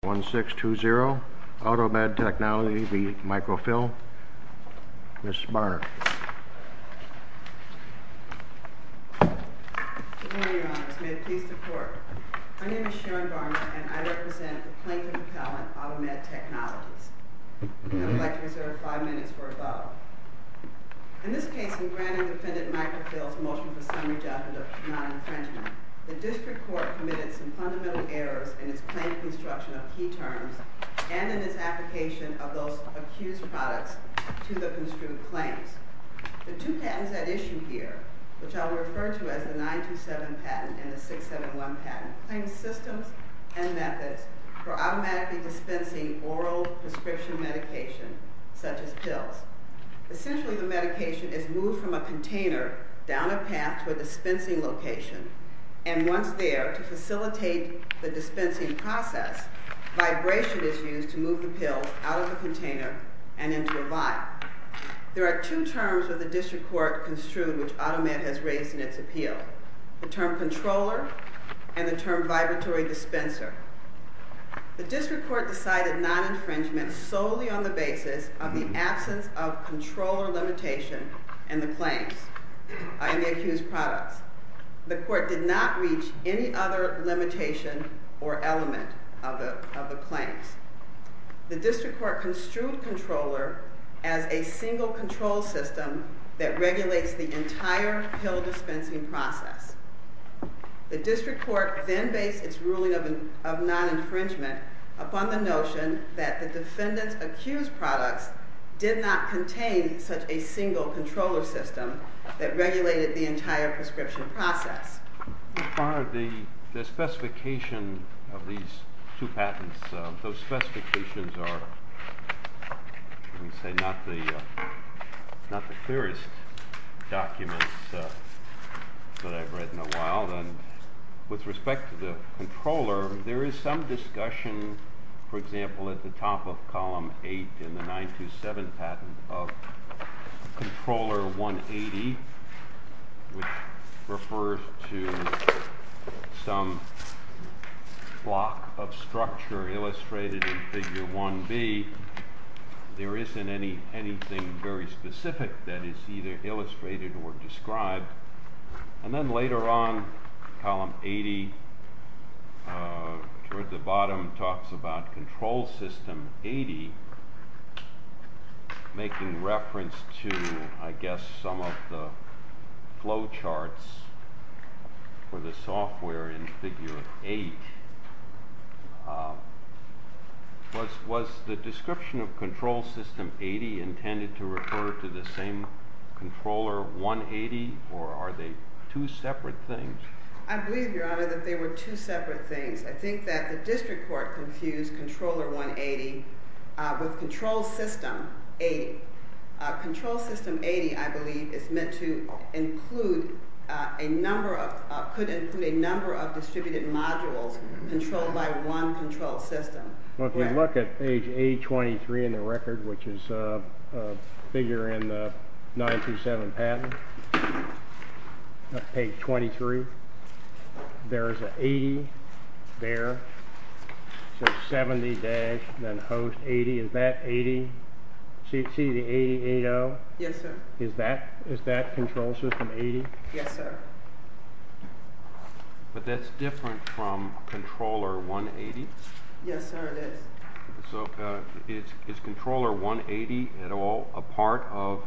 1620, Automed Technology v. Microfil, Ms. Barnard. Good morning, Your Honors. May it please the Court. My name is Sharon Barnard, and I represent the Plaintiff Appellant, Automed Technologies. I would like to reserve five minutes for a vote. In this case, in granting Defendant Microfil's motion for summary judgment of non-infringement, the District Court committed some fundamental errors in its claim construction of key terms and in its application of those accused products to the construed claims. The two patents at issue here, which I will refer to as the 927 patent and the 671 patent, claim systems and methods for automatically dispensing oral prescription medication, such as pills. Essentially, the medication is moved from a container down a path to a dispensing location, and once there, to facilitate the dispensing process, vibration is used to move the pill out of the container and into a vial. There are two terms that the District Court construed which Automed has raised in its appeal, the term controller and the term vibratory dispenser. The District Court decided non-infringement solely on the basis of the absence of controller limitation in the claims, in the accused products. The Court did not reach any other limitation or element of the claims. The District Court construed controller as a single control system that regulates the entire pill dispensing process. The District Court then based its ruling of non-infringement upon the notion that the defendants' accused products did not contain such a single controller system that regulated the entire prescription process. As far as the specification of these two patents, those specifications are, let me say, not the clearest documents that I've read in a while. And with respect to the controller, there is some discussion, for example, at the top of Column 8 in the 927 patent of Controller 180, which refers to some block of structure illustrated in Figure 1B. There isn't anything very specific that is either illustrated or described. And then later on, Column 80, toward the bottom, talks about Control System 80, making reference to, I guess, some of the flowcharts for the software in Figure 8. Was the description of Control System 80 intended to refer to the same Controller 180, or are they two separate things? I believe, Your Honor, that they were two separate things. I think that the District Court confused Controller 180 with Control System 80. I believe it's meant to include a number of – could include a number of distributed modules controlled by one control system. Well, if you look at page 823 in the record, which is a figure in the 927 patent, page 23, there is an 80 there, so 70-80. Is that 80? See the 8080? Yes, sir. Is that Control System 80? Yes, sir. But that's different from Controller 180. Yes, sir, it is. So is Controller 180 at all a part of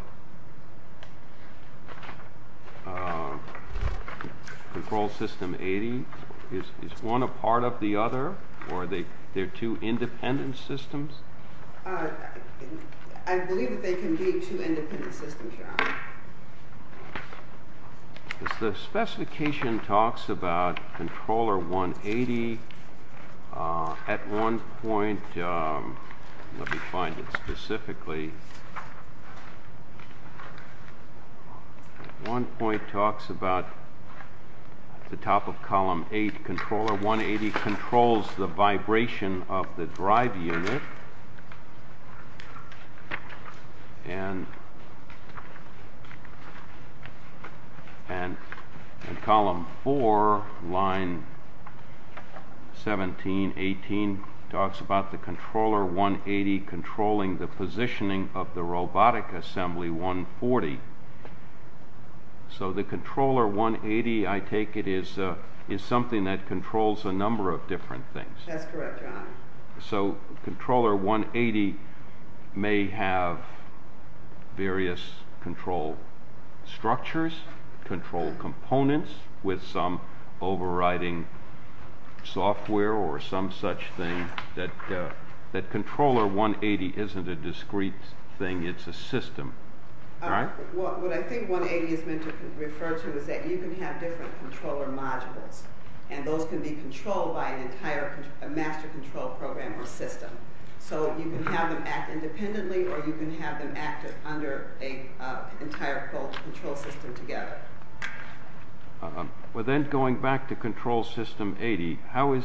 Control System 80? Is one a part of the other, or are they two independent systems? I believe that they can be two independent systems, Your Honor. The specification talks about Controller 180 at one point. Let me find it specifically. One point talks about the top of column 8, Controller 180 controls the vibration of the drive unit. And column 4, line 17, 18, talks about the Controller 180 controlling the positioning of the robotic assembly 140. So the Controller 180, I take it, is something that controls a number of different things. That's correct, Your Honor. So Controller 180 may have various control structures, control components, with some overriding software or some such thing, that Controller 180 isn't a discrete thing, it's a system, right? What I think 180 is meant to refer to is that you can have different controller modules, and those can be controlled by an entire master control program or system. So you can have them act independently, or you can have them act under an entire control system together. Well, then going back to Control System 80, how is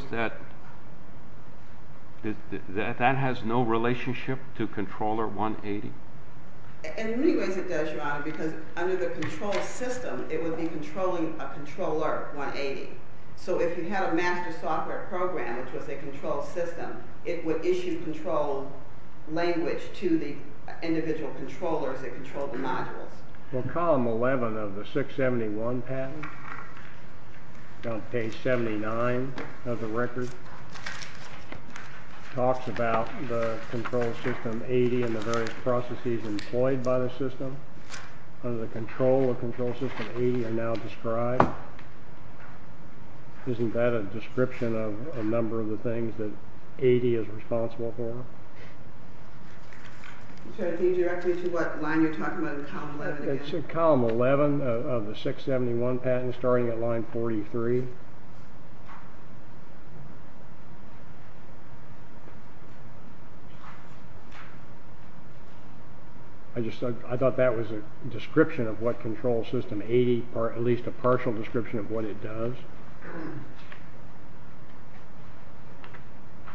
that—that has no relationship to Controller 180? In many ways it does, Your Honor, because under the control system, it would be controlling a Controller 180. So if you had a master software program, which was a control system, it would issue control language to the individual controllers that controlled the modules. Well, column 11 of the 671 patent, on page 79 of the record, talks about the Control System 80 and the various processes employed by the system. Under the control of Control System 80 are now described. Isn't that a description of a number of the things that 80 is responsible for? So it leads directly to what line you're talking about in column 11 again? It's in column 11 of the 671 patent, starting at line 43. I just thought that was a description of what Control System 80— or at least a partial description of what it does.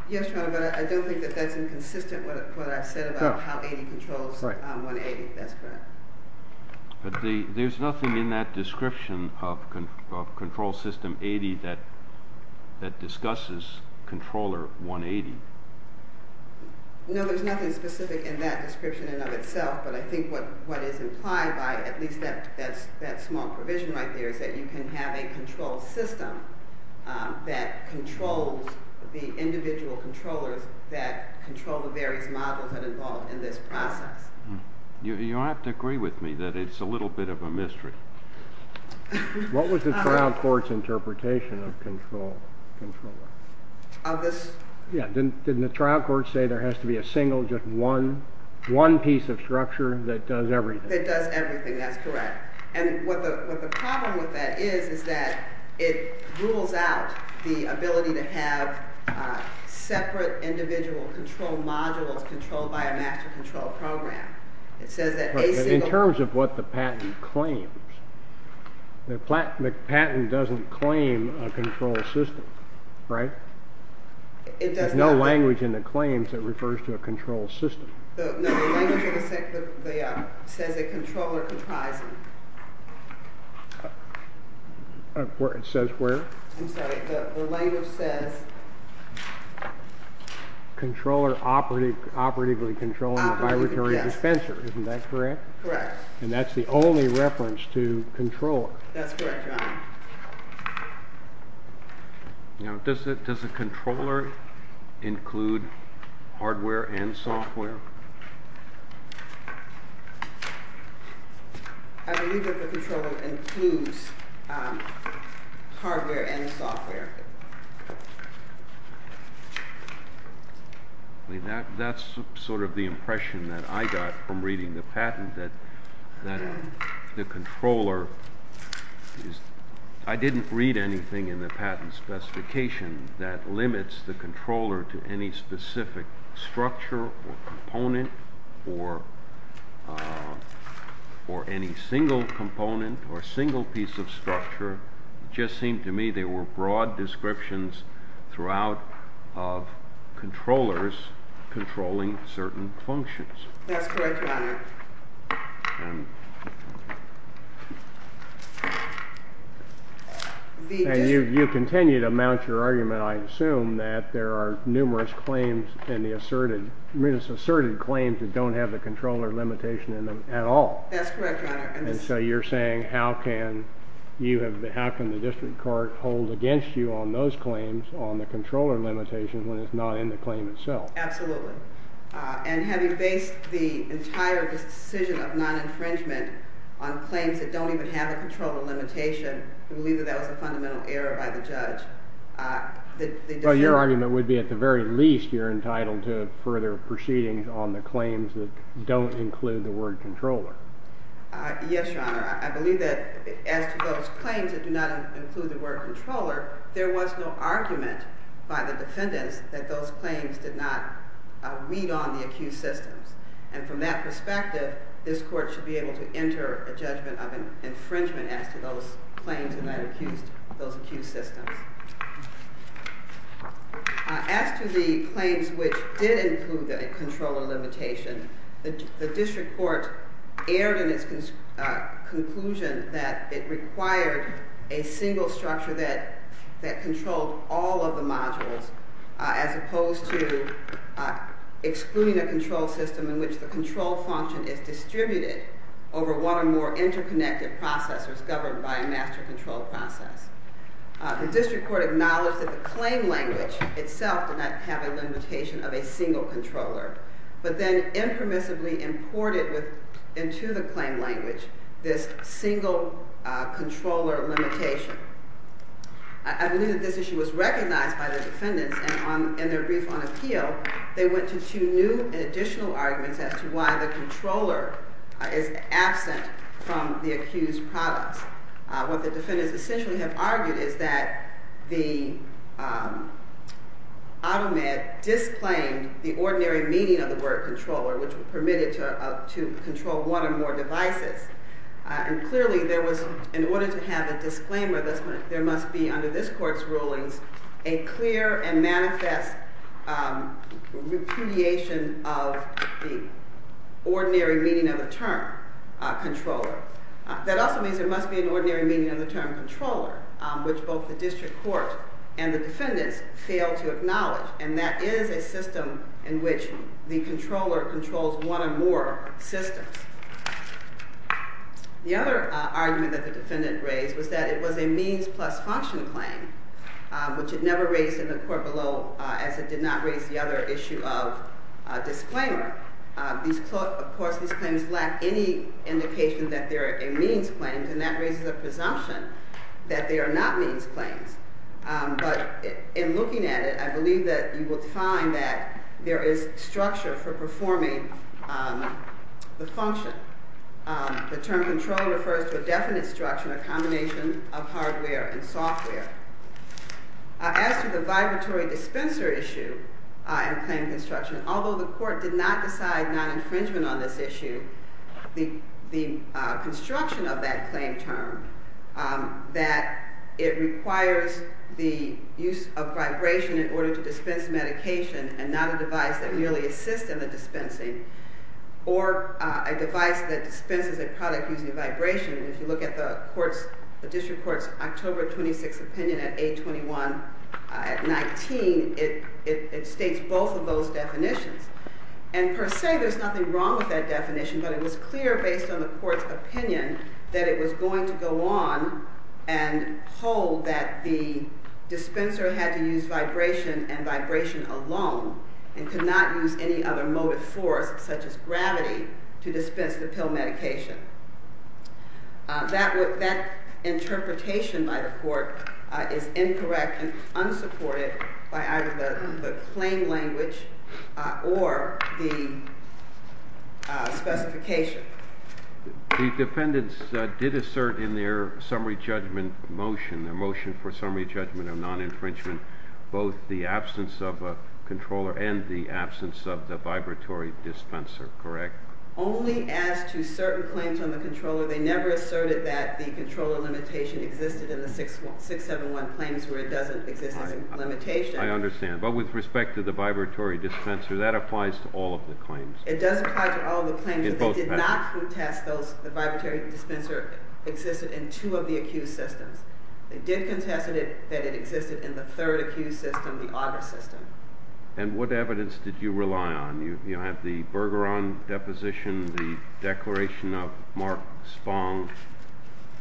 Yes, Your Honor, but I don't think that that's inconsistent with what I said about how 80 controls 180. That's correct. But there's nothing in that description of Control System 80 that discusses Controller 180. No, there's nothing specific in that description in and of itself, but I think what is implied by at least that small provision right there is that you can have a control system that controls the individual controllers that control the various models that are involved in this process. You'll have to agree with me that it's a little bit of a mystery. What was the trial court's interpretation of controller? Of this? Yes, didn't the trial court say there has to be a single, just one piece of structure that does everything? That does everything, that's correct. And what the problem with that is is that it rules out the ability to have separate individual control modules controlled by a master control program. It says that a single— But in terms of what the patent claims, the patent doesn't claim a control system, right? It does not. There's no language in the claims that refers to a control system. No, the language says a controller comprising. It says where? I'm sorry, the language says— Controller operatively controlling the vibratory dispenser, isn't that correct? Correct. And that's the only reference to controller. That's correct, Your Honor. Now, does the controller include hardware and software? I believe that the controller includes hardware and software. That's sort of the impression that I got from reading the patent, that the controller is— I didn't read anything in the patent specification that limits the controller to any specific structure or component or any single component or single piece of structure. It just seemed to me there were broad descriptions throughout of controllers controlling certain functions. That's correct, Your Honor. And you continue to mount your argument, I assume, that there are numerous claims in the asserted— numerous asserted claims that don't have the controller limitation in them at all. That's correct, Your Honor. And so you're saying how can you have— how can the district court hold against you on those claims on the controller limitation when it's not in the claim itself? Absolutely. And having based the entire decision of non-infringement on claims that don't even have a controller limitation, I believe that that was a fundamental error by the judge. Well, your argument would be at the very least you're entitled to further proceedings on the claims that don't include the word controller. Yes, Your Honor. I believe that as to those claims that do not include the word controller, there was no argument by the defendants that those claims did not weed on the accused systems. And from that perspective, this court should be able to enter a judgment of infringement as to those claims and those accused systems. As to the claims which did include the controller limitation, the district court erred in its conclusion that it required a single structure that controlled all of the modules as opposed to excluding a control system in which the control function is distributed over one or more interconnected processors governed by a master control process. The district court acknowledged that the claim language itself did not have a limitation of a single controller, but then impermissibly imported into the claim language this single controller limitation. I believe that this issue was recognized by the defendants, and in their brief on appeal, they went to two new and additional arguments as to why the controller is absent from the accused products. What the defendants essentially have argued is that the auto-med disclaimed the ordinary meaning of the word controller, which permitted to control one or more devices. And clearly, in order to have a disclaimer, there must be, under this court's rulings, a clear and manifest repudiation of the ordinary meaning of the term controller. That also means there must be an ordinary meaning of the term controller, which both the district court and the defendants failed to acknowledge, and that is a system in which the controller controls one or more systems. The other argument that the defendant raised was that it was a means plus function claim, which it never raised in the court below as it did not raise the other issue of disclaimer. Of course, these claims lack any indication that they are a means claim, and that raises a presumption that they are not means claims. But in looking at it, I believe that you will find that there is structure for performing the function. The term controller refers to a definite structure, a combination of hardware and software. As to the vibratory dispenser issue in claim construction, although the court did not decide non-infringement on this issue, the construction of that claim term, that it requires the use of vibration in order to dispense medication and not a device that merely assists in the dispensing, or a device that dispenses a product using vibration. If you look at the district court's October 26 opinion at 821 at 19, it states both of those definitions. And per se, there's nothing wrong with that definition, but it was clear based on the court's opinion that it was going to go on and hold that the dispenser had to use vibration and vibration alone and could not use any other motive force, such as gravity, to dispense the pill medication. That interpretation by the court is incorrect and unsupported by either the claim language or the specification. The defendants did assert in their summary judgment motion, their motion for summary judgment of non-infringement, both the absence of a controller and the absence of the vibratory dispenser, correct? Only as to certain claims on the controller. They never asserted that the controller limitation existed in the 671 claims where it doesn't exist as a limitation. I understand. But with respect to the vibratory dispenser, that applies to all of the claims. It does apply to all of the claims, but they did not contest that the vibratory dispenser existed in two of the accused systems. They did contest that it existed in the third accused system, the auger system. And what evidence did you rely on? You have the Bergeron deposition, the declaration of Mark Spong.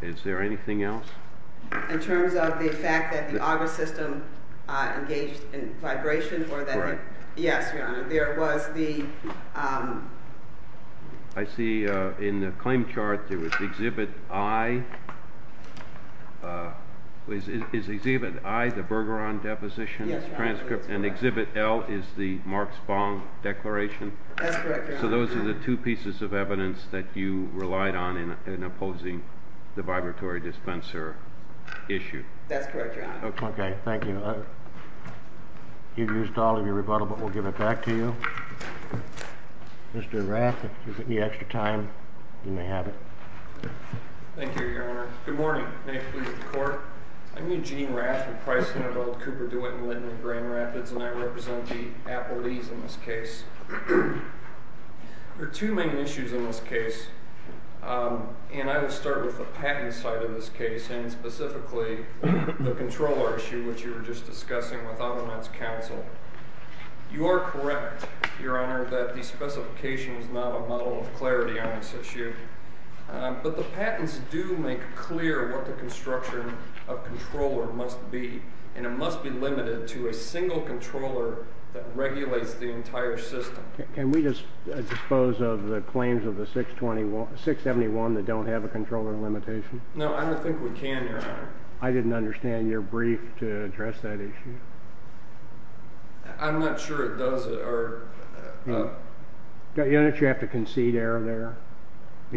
Is there anything else? In terms of the fact that the auger system engaged in vibration? Correct. Yes, Your Honor. There was the— I see in the claim chart there was exhibit I. Is exhibit I the Bergeron deposition? Yes, Your Honor. And exhibit L is the Mark Spong declaration? That's correct, Your Honor. So those are the two pieces of evidence that you relied on in opposing the vibratory dispenser issue. That's correct, Your Honor. Okay. Thank you. You've used all of your rebuttal, but we'll give it back to you. Mr. Rath, if you could give me extra time, you may have it. Thank you, Your Honor. Good morning. May it please the Court. I'm Eugene Rath from Price, Hinderbilt, Cooper, DeWitt, and Littner Grand Rapids, and I represent the Appleese in this case. There are two main issues in this case, and I will start with the patent side of this case, and specifically the controller issue, which you were just discussing with other men's counsel. You are correct, Your Honor, that the specification is not a model of clarity on this issue, but the patents do make clear what the construction of controller must be, and it must be limited to a single controller that regulates the entire system. Can we just dispose of the claims of the 621—671 that don't have a controller limitation? No, I don't think we can, Your Honor. I didn't understand your brief to address that issue. I'm not sure it does— Don't you have to concede error there?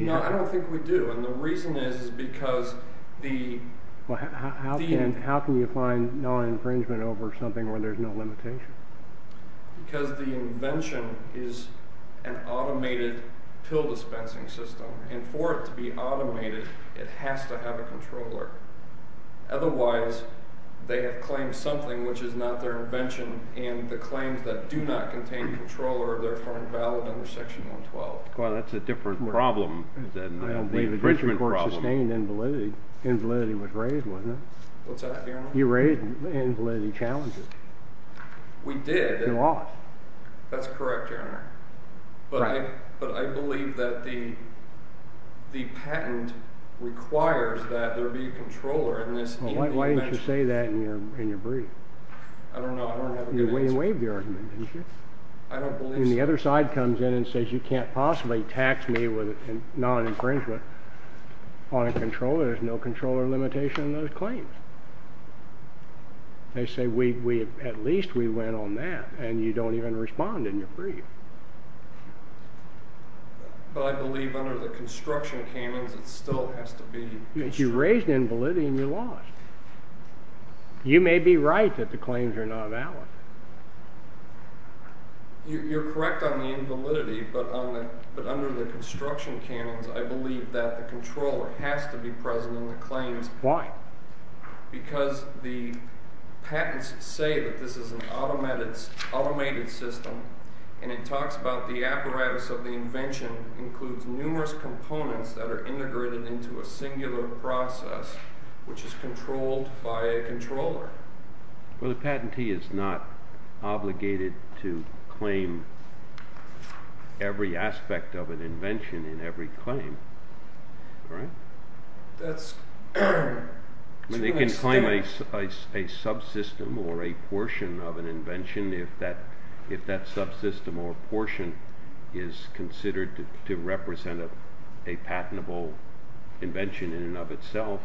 No, I don't think we do, and the reason is because the— How can you find non-infringement over something where there's no limitation? Because the invention is an automated pill dispensing system, and for it to be automated, it has to have a controller. Otherwise, they have claimed something which is not their invention, and the claims that do not contain a controller are therefore invalid under Section 112. Well, that's a different problem than the infringement problem. I don't believe the district court sustained invalidity. Invalidity was raised, wasn't it? What's that, Your Honor? You raised invalidity challenges. We did. You lost. That's correct, Your Honor. But I believe that the patent requires that there be a controller in this— Why didn't you say that in your brief? I don't know. You waived the argument, didn't you? I don't believe so. And the other side comes in and says you can't possibly tax me with non-infringement on a controller. There's no controller limitation in those claims. They say at least we went on that, and you don't even respond in your brief. But I believe under the construction canons it still has to be— You raised invalidity and you lost. You may be right that the claims are not valid. You're correct on the invalidity, but under the construction canons, I believe that the controller has to be present in the claims. Why? Because the patents say that this is an automated system, and it talks about the apparatus of the invention includes numerous components that are integrated into a singular process, which is controlled by a controller. Well, the patentee is not obligated to claim every aspect of an invention in every claim, right? That's— They can claim a subsystem or a portion of an invention if that subsystem or portion is considered to represent a patentable invention in and of itself.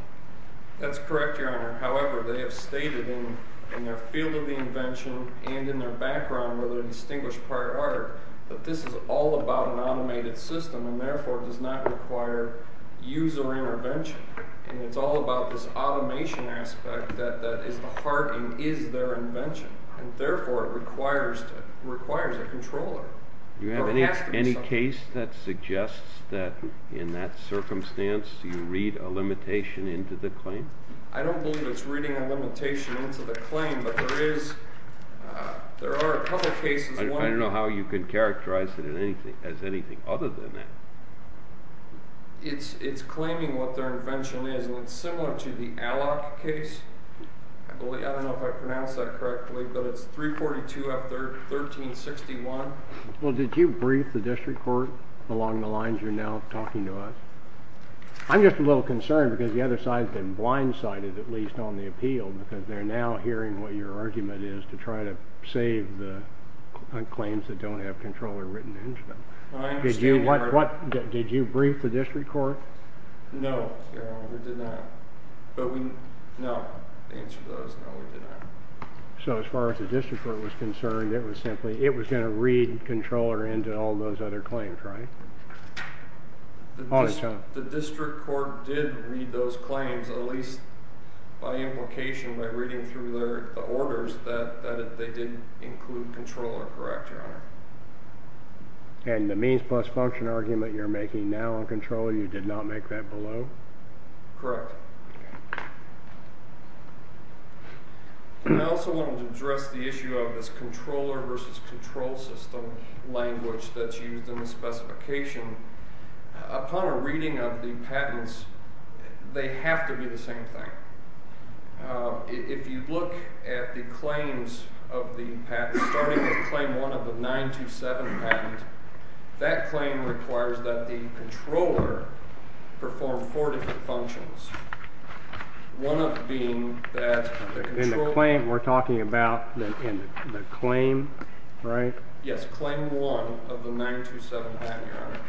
That's correct, Your Honor. However, they have stated in their field of the invention and in their background with a distinguished prior order that this is all about an automated system and therefore does not require user intervention, and it's all about this automation aspect that is the heart and is their invention, and therefore it requires a controller. Do you have any case that suggests that in that circumstance you read a limitation into the claim? I don't believe it's reading a limitation into the claim, but there are a couple of cases— I don't know how you can characterize it as anything other than that. It's claiming what their invention is, and it's similar to the Alloc case. I don't know if I pronounced that correctly, but it's 342 F 1361. Well, did you brief the district court along the lines you're now talking to us? I'm just a little concerned because the other side's been blindsided, at least on the appeal, because they're now hearing what your argument is to try to save the claims that don't have controller written into them. Did you brief the district court? No, Your Honor, we did not. No, the answer to that is no, we did not. So as far as the district court was concerned, it was going to read controller into all those other claims, right? The district court did read those claims, at least by implication, by reading through the orders that they did include controller, correct, Your Honor? And the means plus function argument you're making now on controller, you did not make that below? Correct. I also wanted to address the issue of this controller versus control system language that's used in the specification. Upon a reading of the patents, they have to be the same thing. If you look at the claims of the patents, starting with Claim 1 of the 927 patent, that claim requires that the controller perform four different functions, one of them being that the controller In the claim we're talking about, in the claim, right? Yes, Claim 1 of the 927 patent, Your Honor.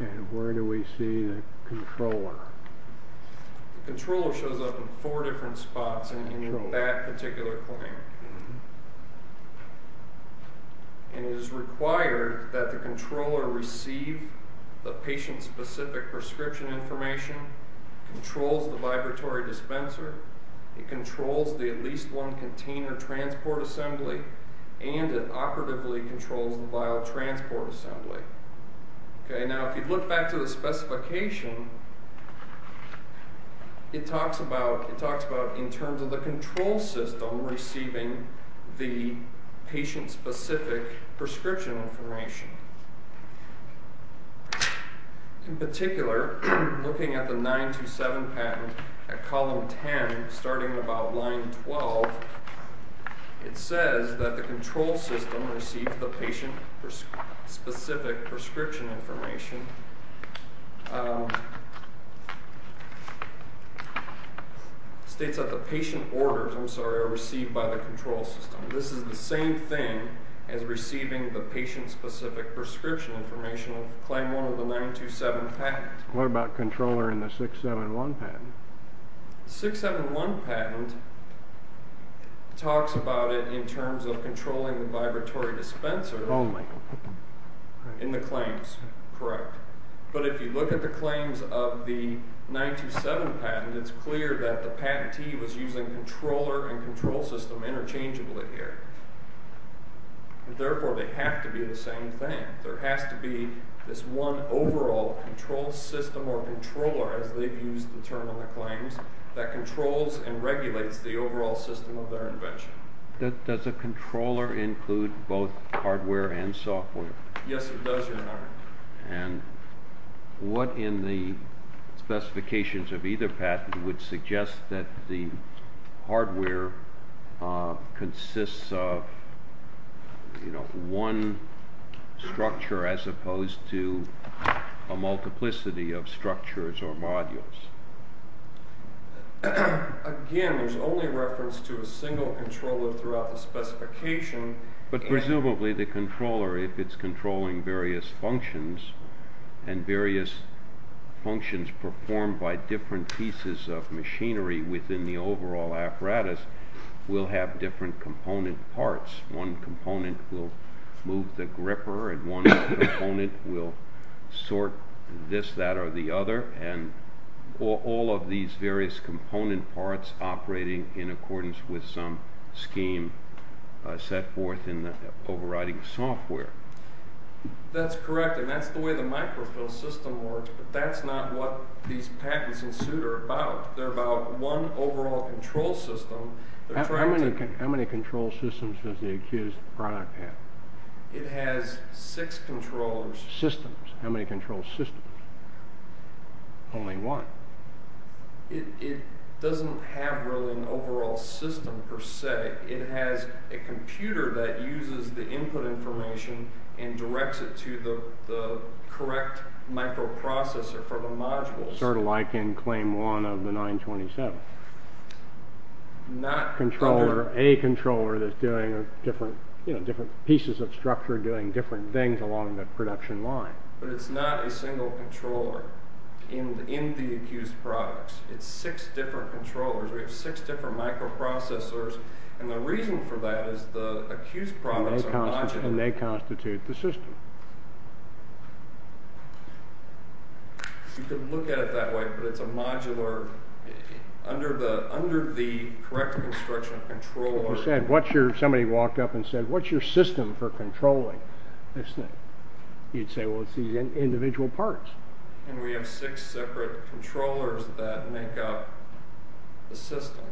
And where do we see the controller? The controller shows up in four different spots in that particular claim. And it is required that the controller receive the patient-specific prescription information, controls the vibratory dispenser, it controls the at-least-one-container transport assembly, and it operatively controls the vial transport assembly. Now, if you look back to the specification, it talks about, in terms of the control system, receiving the patient-specific prescription information. In particular, looking at the 927 patent at Column 10, starting about Line 12, it says that the control system receives the patient-specific prescription information. It states that the patient orders, I'm sorry, are received by the control system. This is the same thing as receiving the patient-specific prescription information of Claim 1 of the 927 patent. What about controller in the 671 patent? 671 patent talks about it in terms of controlling the vibratory dispenser. Only? In the claims, correct. But if you look at the claims of the 927 patent, it's clear that the patentee was using controller and control system interchangeably here. Therefore, they have to be the same thing. There has to be this one overall control system or controller, as they've used the term in the claims, that controls and regulates the overall system of their invention. Does a controller include both hardware and software? Yes, it does, Your Honor. And what in the specifications of either patent would suggest that the hardware consists of one structure as opposed to a multiplicity of structures or modules? Again, there's only reference to a single controller throughout the specification. But presumably, the controller, if it's controlling various functions and various functions performed by different pieces of machinery within the overall apparatus, will have different component parts. One component will move the gripper, and one component will sort this, that, or the other. And all of these various component parts operating in accordance with some scheme set forth in the overriding software. That's correct, and that's the way the microfilm system works, but that's not what these patents in suit are about. They're about one overall control system. How many control systems does the accused product have? It has six controllers. Systems. How many control systems? Only one. It doesn't have really an overall system per se. It has a computer that uses the input information and directs it to the correct microprocessor for the modules. Sort of like in Claim 1 of the 927. Not a controller that's doing different pieces of structure, doing different things along the production line. But it's not a single controller in the accused products. It's six different controllers. We have six different microprocessors, and the reason for that is the accused products are modular, and they constitute the system. You can look at it that way, but it's a modular, under the correct construction of controllers. Somebody walked up and said, what's your system for controlling this thing? You'd say, well, it's these individual parts. And we have six separate controllers that make up the system.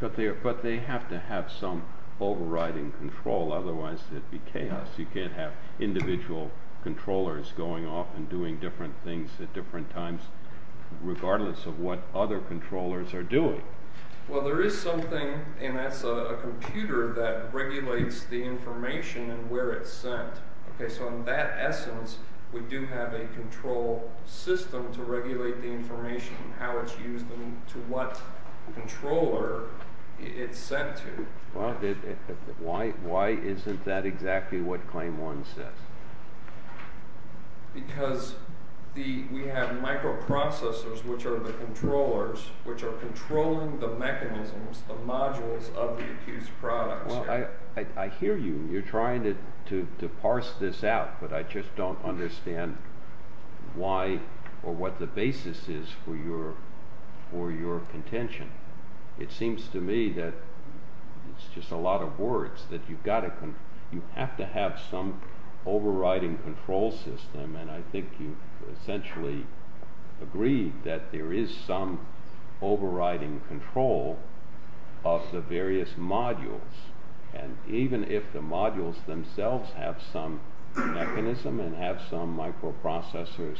But they have to have some overriding control, otherwise it'd be chaos. You can't have individual controllers going off and doing different things at different times, regardless of what other controllers are doing. Well, there is something, and that's a computer, that regulates the information and where it's sent. So in that essence, we do have a control system to regulate the information and how it's used and to what controller it's sent to. Why isn't that exactly what Claim 1 says? Because we have microprocessors, which are the controllers, which are controlling the mechanisms, the modules, of the accused products. Well, I hear you. You're trying to parse this out, but I just don't understand why or what the basis is for your contention. It seems to me that it's just a lot of words, that you have to have some overriding control system, and I think you've essentially agreed that there is some overriding control of the various modules. And even if the modules themselves have some mechanism and have some microprocessors,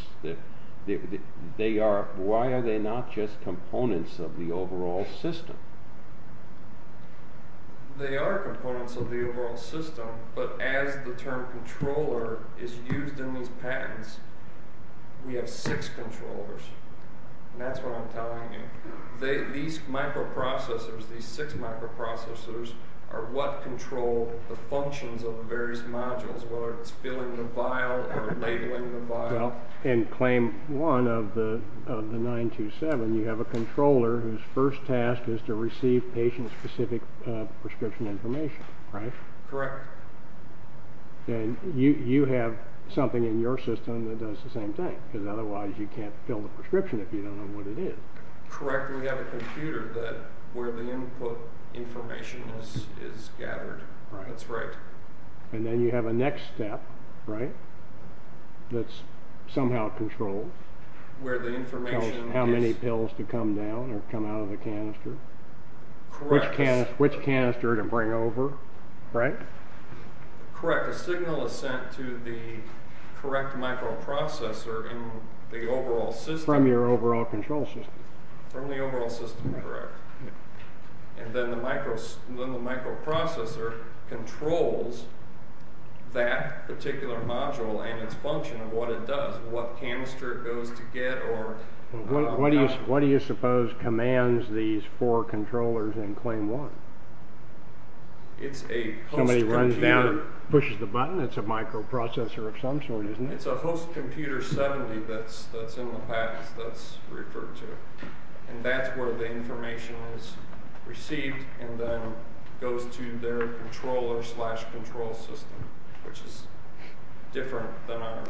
why are they not just components of the overall system? They are components of the overall system, but as the term controller is used in these patents, we have six controllers, and that's what I'm telling you. These microprocessors, these six microprocessors, are what control the functions of the various modules, whether it's filling the vial or labeling the vial. Well, in Claim 1 of the 927, you have a controller whose first task is to receive patient-specific prescription information, right? Correct. And you have something in your system that does the same thing, because otherwise you can't fill the prescription if you don't know what it is. Correct, and we have a computer where the input information is gathered. Right. That's right. And then you have a next step, right, that's somehow controlled. Where the information is... Tells how many pills to come down or come out of the canister. Correct. Which canister to bring over, right? Correct. The signal is sent to the correct microprocessor in the overall system. From your overall control system. From the overall system, correct. And then the microprocessor controls that particular module and its function of what it does, what canister it goes to get or... What do you suppose commands these four controllers in claim one? It's a host computer. Somebody runs down and pushes the button? It's a microprocessor of some sort, isn't it? It's a host computer 70 that's in the package that's referred to. And that's where the information is received and then goes to their controller-slash-control system, which is different than ours.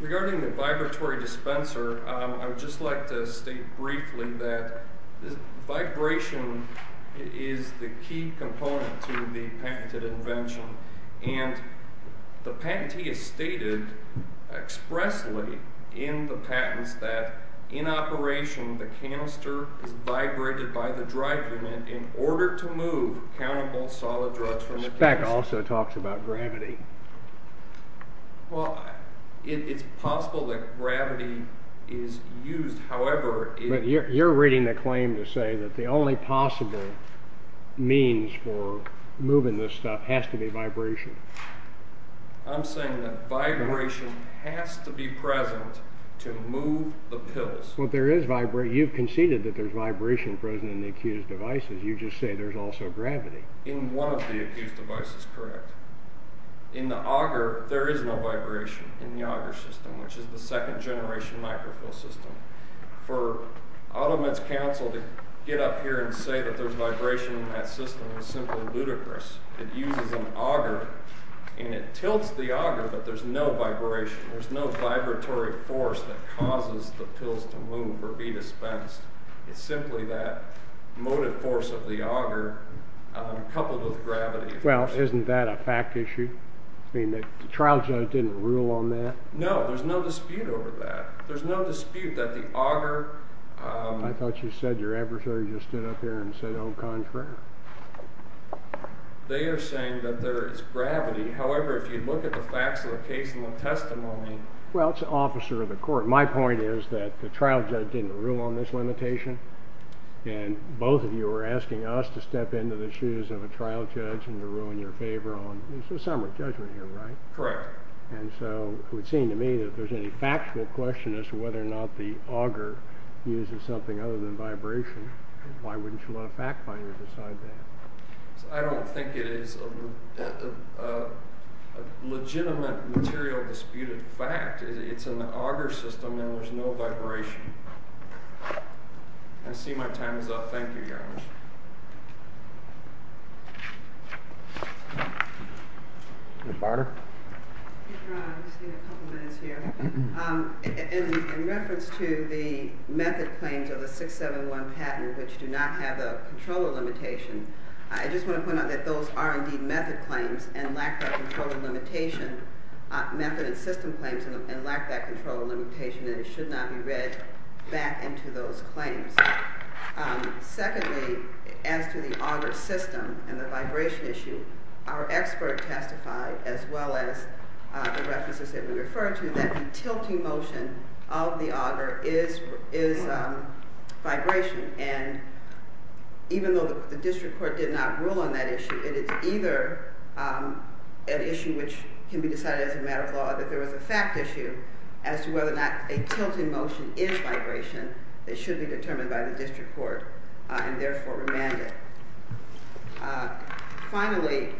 Regarding the vibratory dispenser, I would just like to state briefly that vibration is the key component to the patented invention. And the patentee has stated expressly in the patents that in operation the canister is vibrated by the drive unit This back also talks about gravity. Well, it's possible that gravity is used, however... But you're reading the claim to say that the only possible means for moving this stuff has to be vibration. I'm saying that vibration has to be present to move the pills. Well, there is vibration. You've conceded that there's vibration present in the accused devices. You just say there's also gravity. In one of the accused devices, correct. In the auger, there is no vibration in the auger system, which is the second-generation microfill system. For AutoMed's counsel to get up here and say that there's vibration in that system is simply ludicrous. It uses an auger, and it tilts the auger, but there's no vibration. There's no vibratory force that causes the pills to move or be dispensed. It's simply that motive force of the auger coupled with gravity. Well, isn't that a fact issue? The trial judge didn't rule on that? No, there's no dispute over that. There's no dispute that the auger... I thought you said your adversary just stood up here and said, au contraire. They are saying that there is gravity. However, if you look at the facts of the case and the testimony... Well, it's an officer of the court. My point is that the trial judge didn't rule on this limitation, and both of you are asking us to step into the shoes of a trial judge and to rule in your favor on it. It's a summary judgment here, right? Correct. And so it would seem to me that if there's any factual question as to whether or not the auger uses something other than vibration, why wouldn't you let a fact finder decide that? I don't think it is a legitimate material disputed fact. It's an auger system, and there's no vibration. I see my time is up. Thank you, Your Honor. Ms. Barter? Your Honor, I just need a couple minutes here. In reference to the method claims of the 671 patent, which do not have a controller limitation, I just want to point out that those are indeed method claims and lack that controller limitation. Method and system claims and lack that controller limitation, and it should not be read back into those claims. Secondly, as to the auger system and the vibration issue, our expert testified, as well as the references that we refer to, that the tilting motion of the auger is vibration. And even though the district court did not rule on that issue, it is either an issue which can be decided as a matter of law that there was a fact issue as to whether or not a tilting motion is vibration. It should be determined by the district court and therefore remanded. Finally,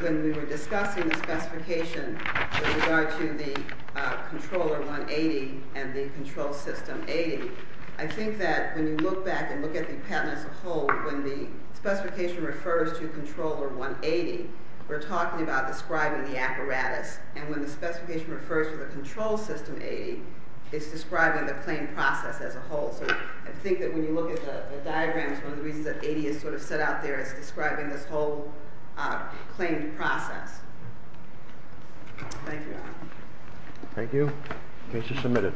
when we were discussing the specification with regard to the controller 180 and the control system 80, I think that when you look back and look at the patent as a whole, when the specification refers to controller 180, we're talking about describing the apparatus, and when the specification refers to the control system 80, it's describing the claim process as a whole. So I think that when you look at the diagram, it's one of the reasons that 80 is sort of set out there as describing this whole claim process. Thank you. Thank you. Case is submitted.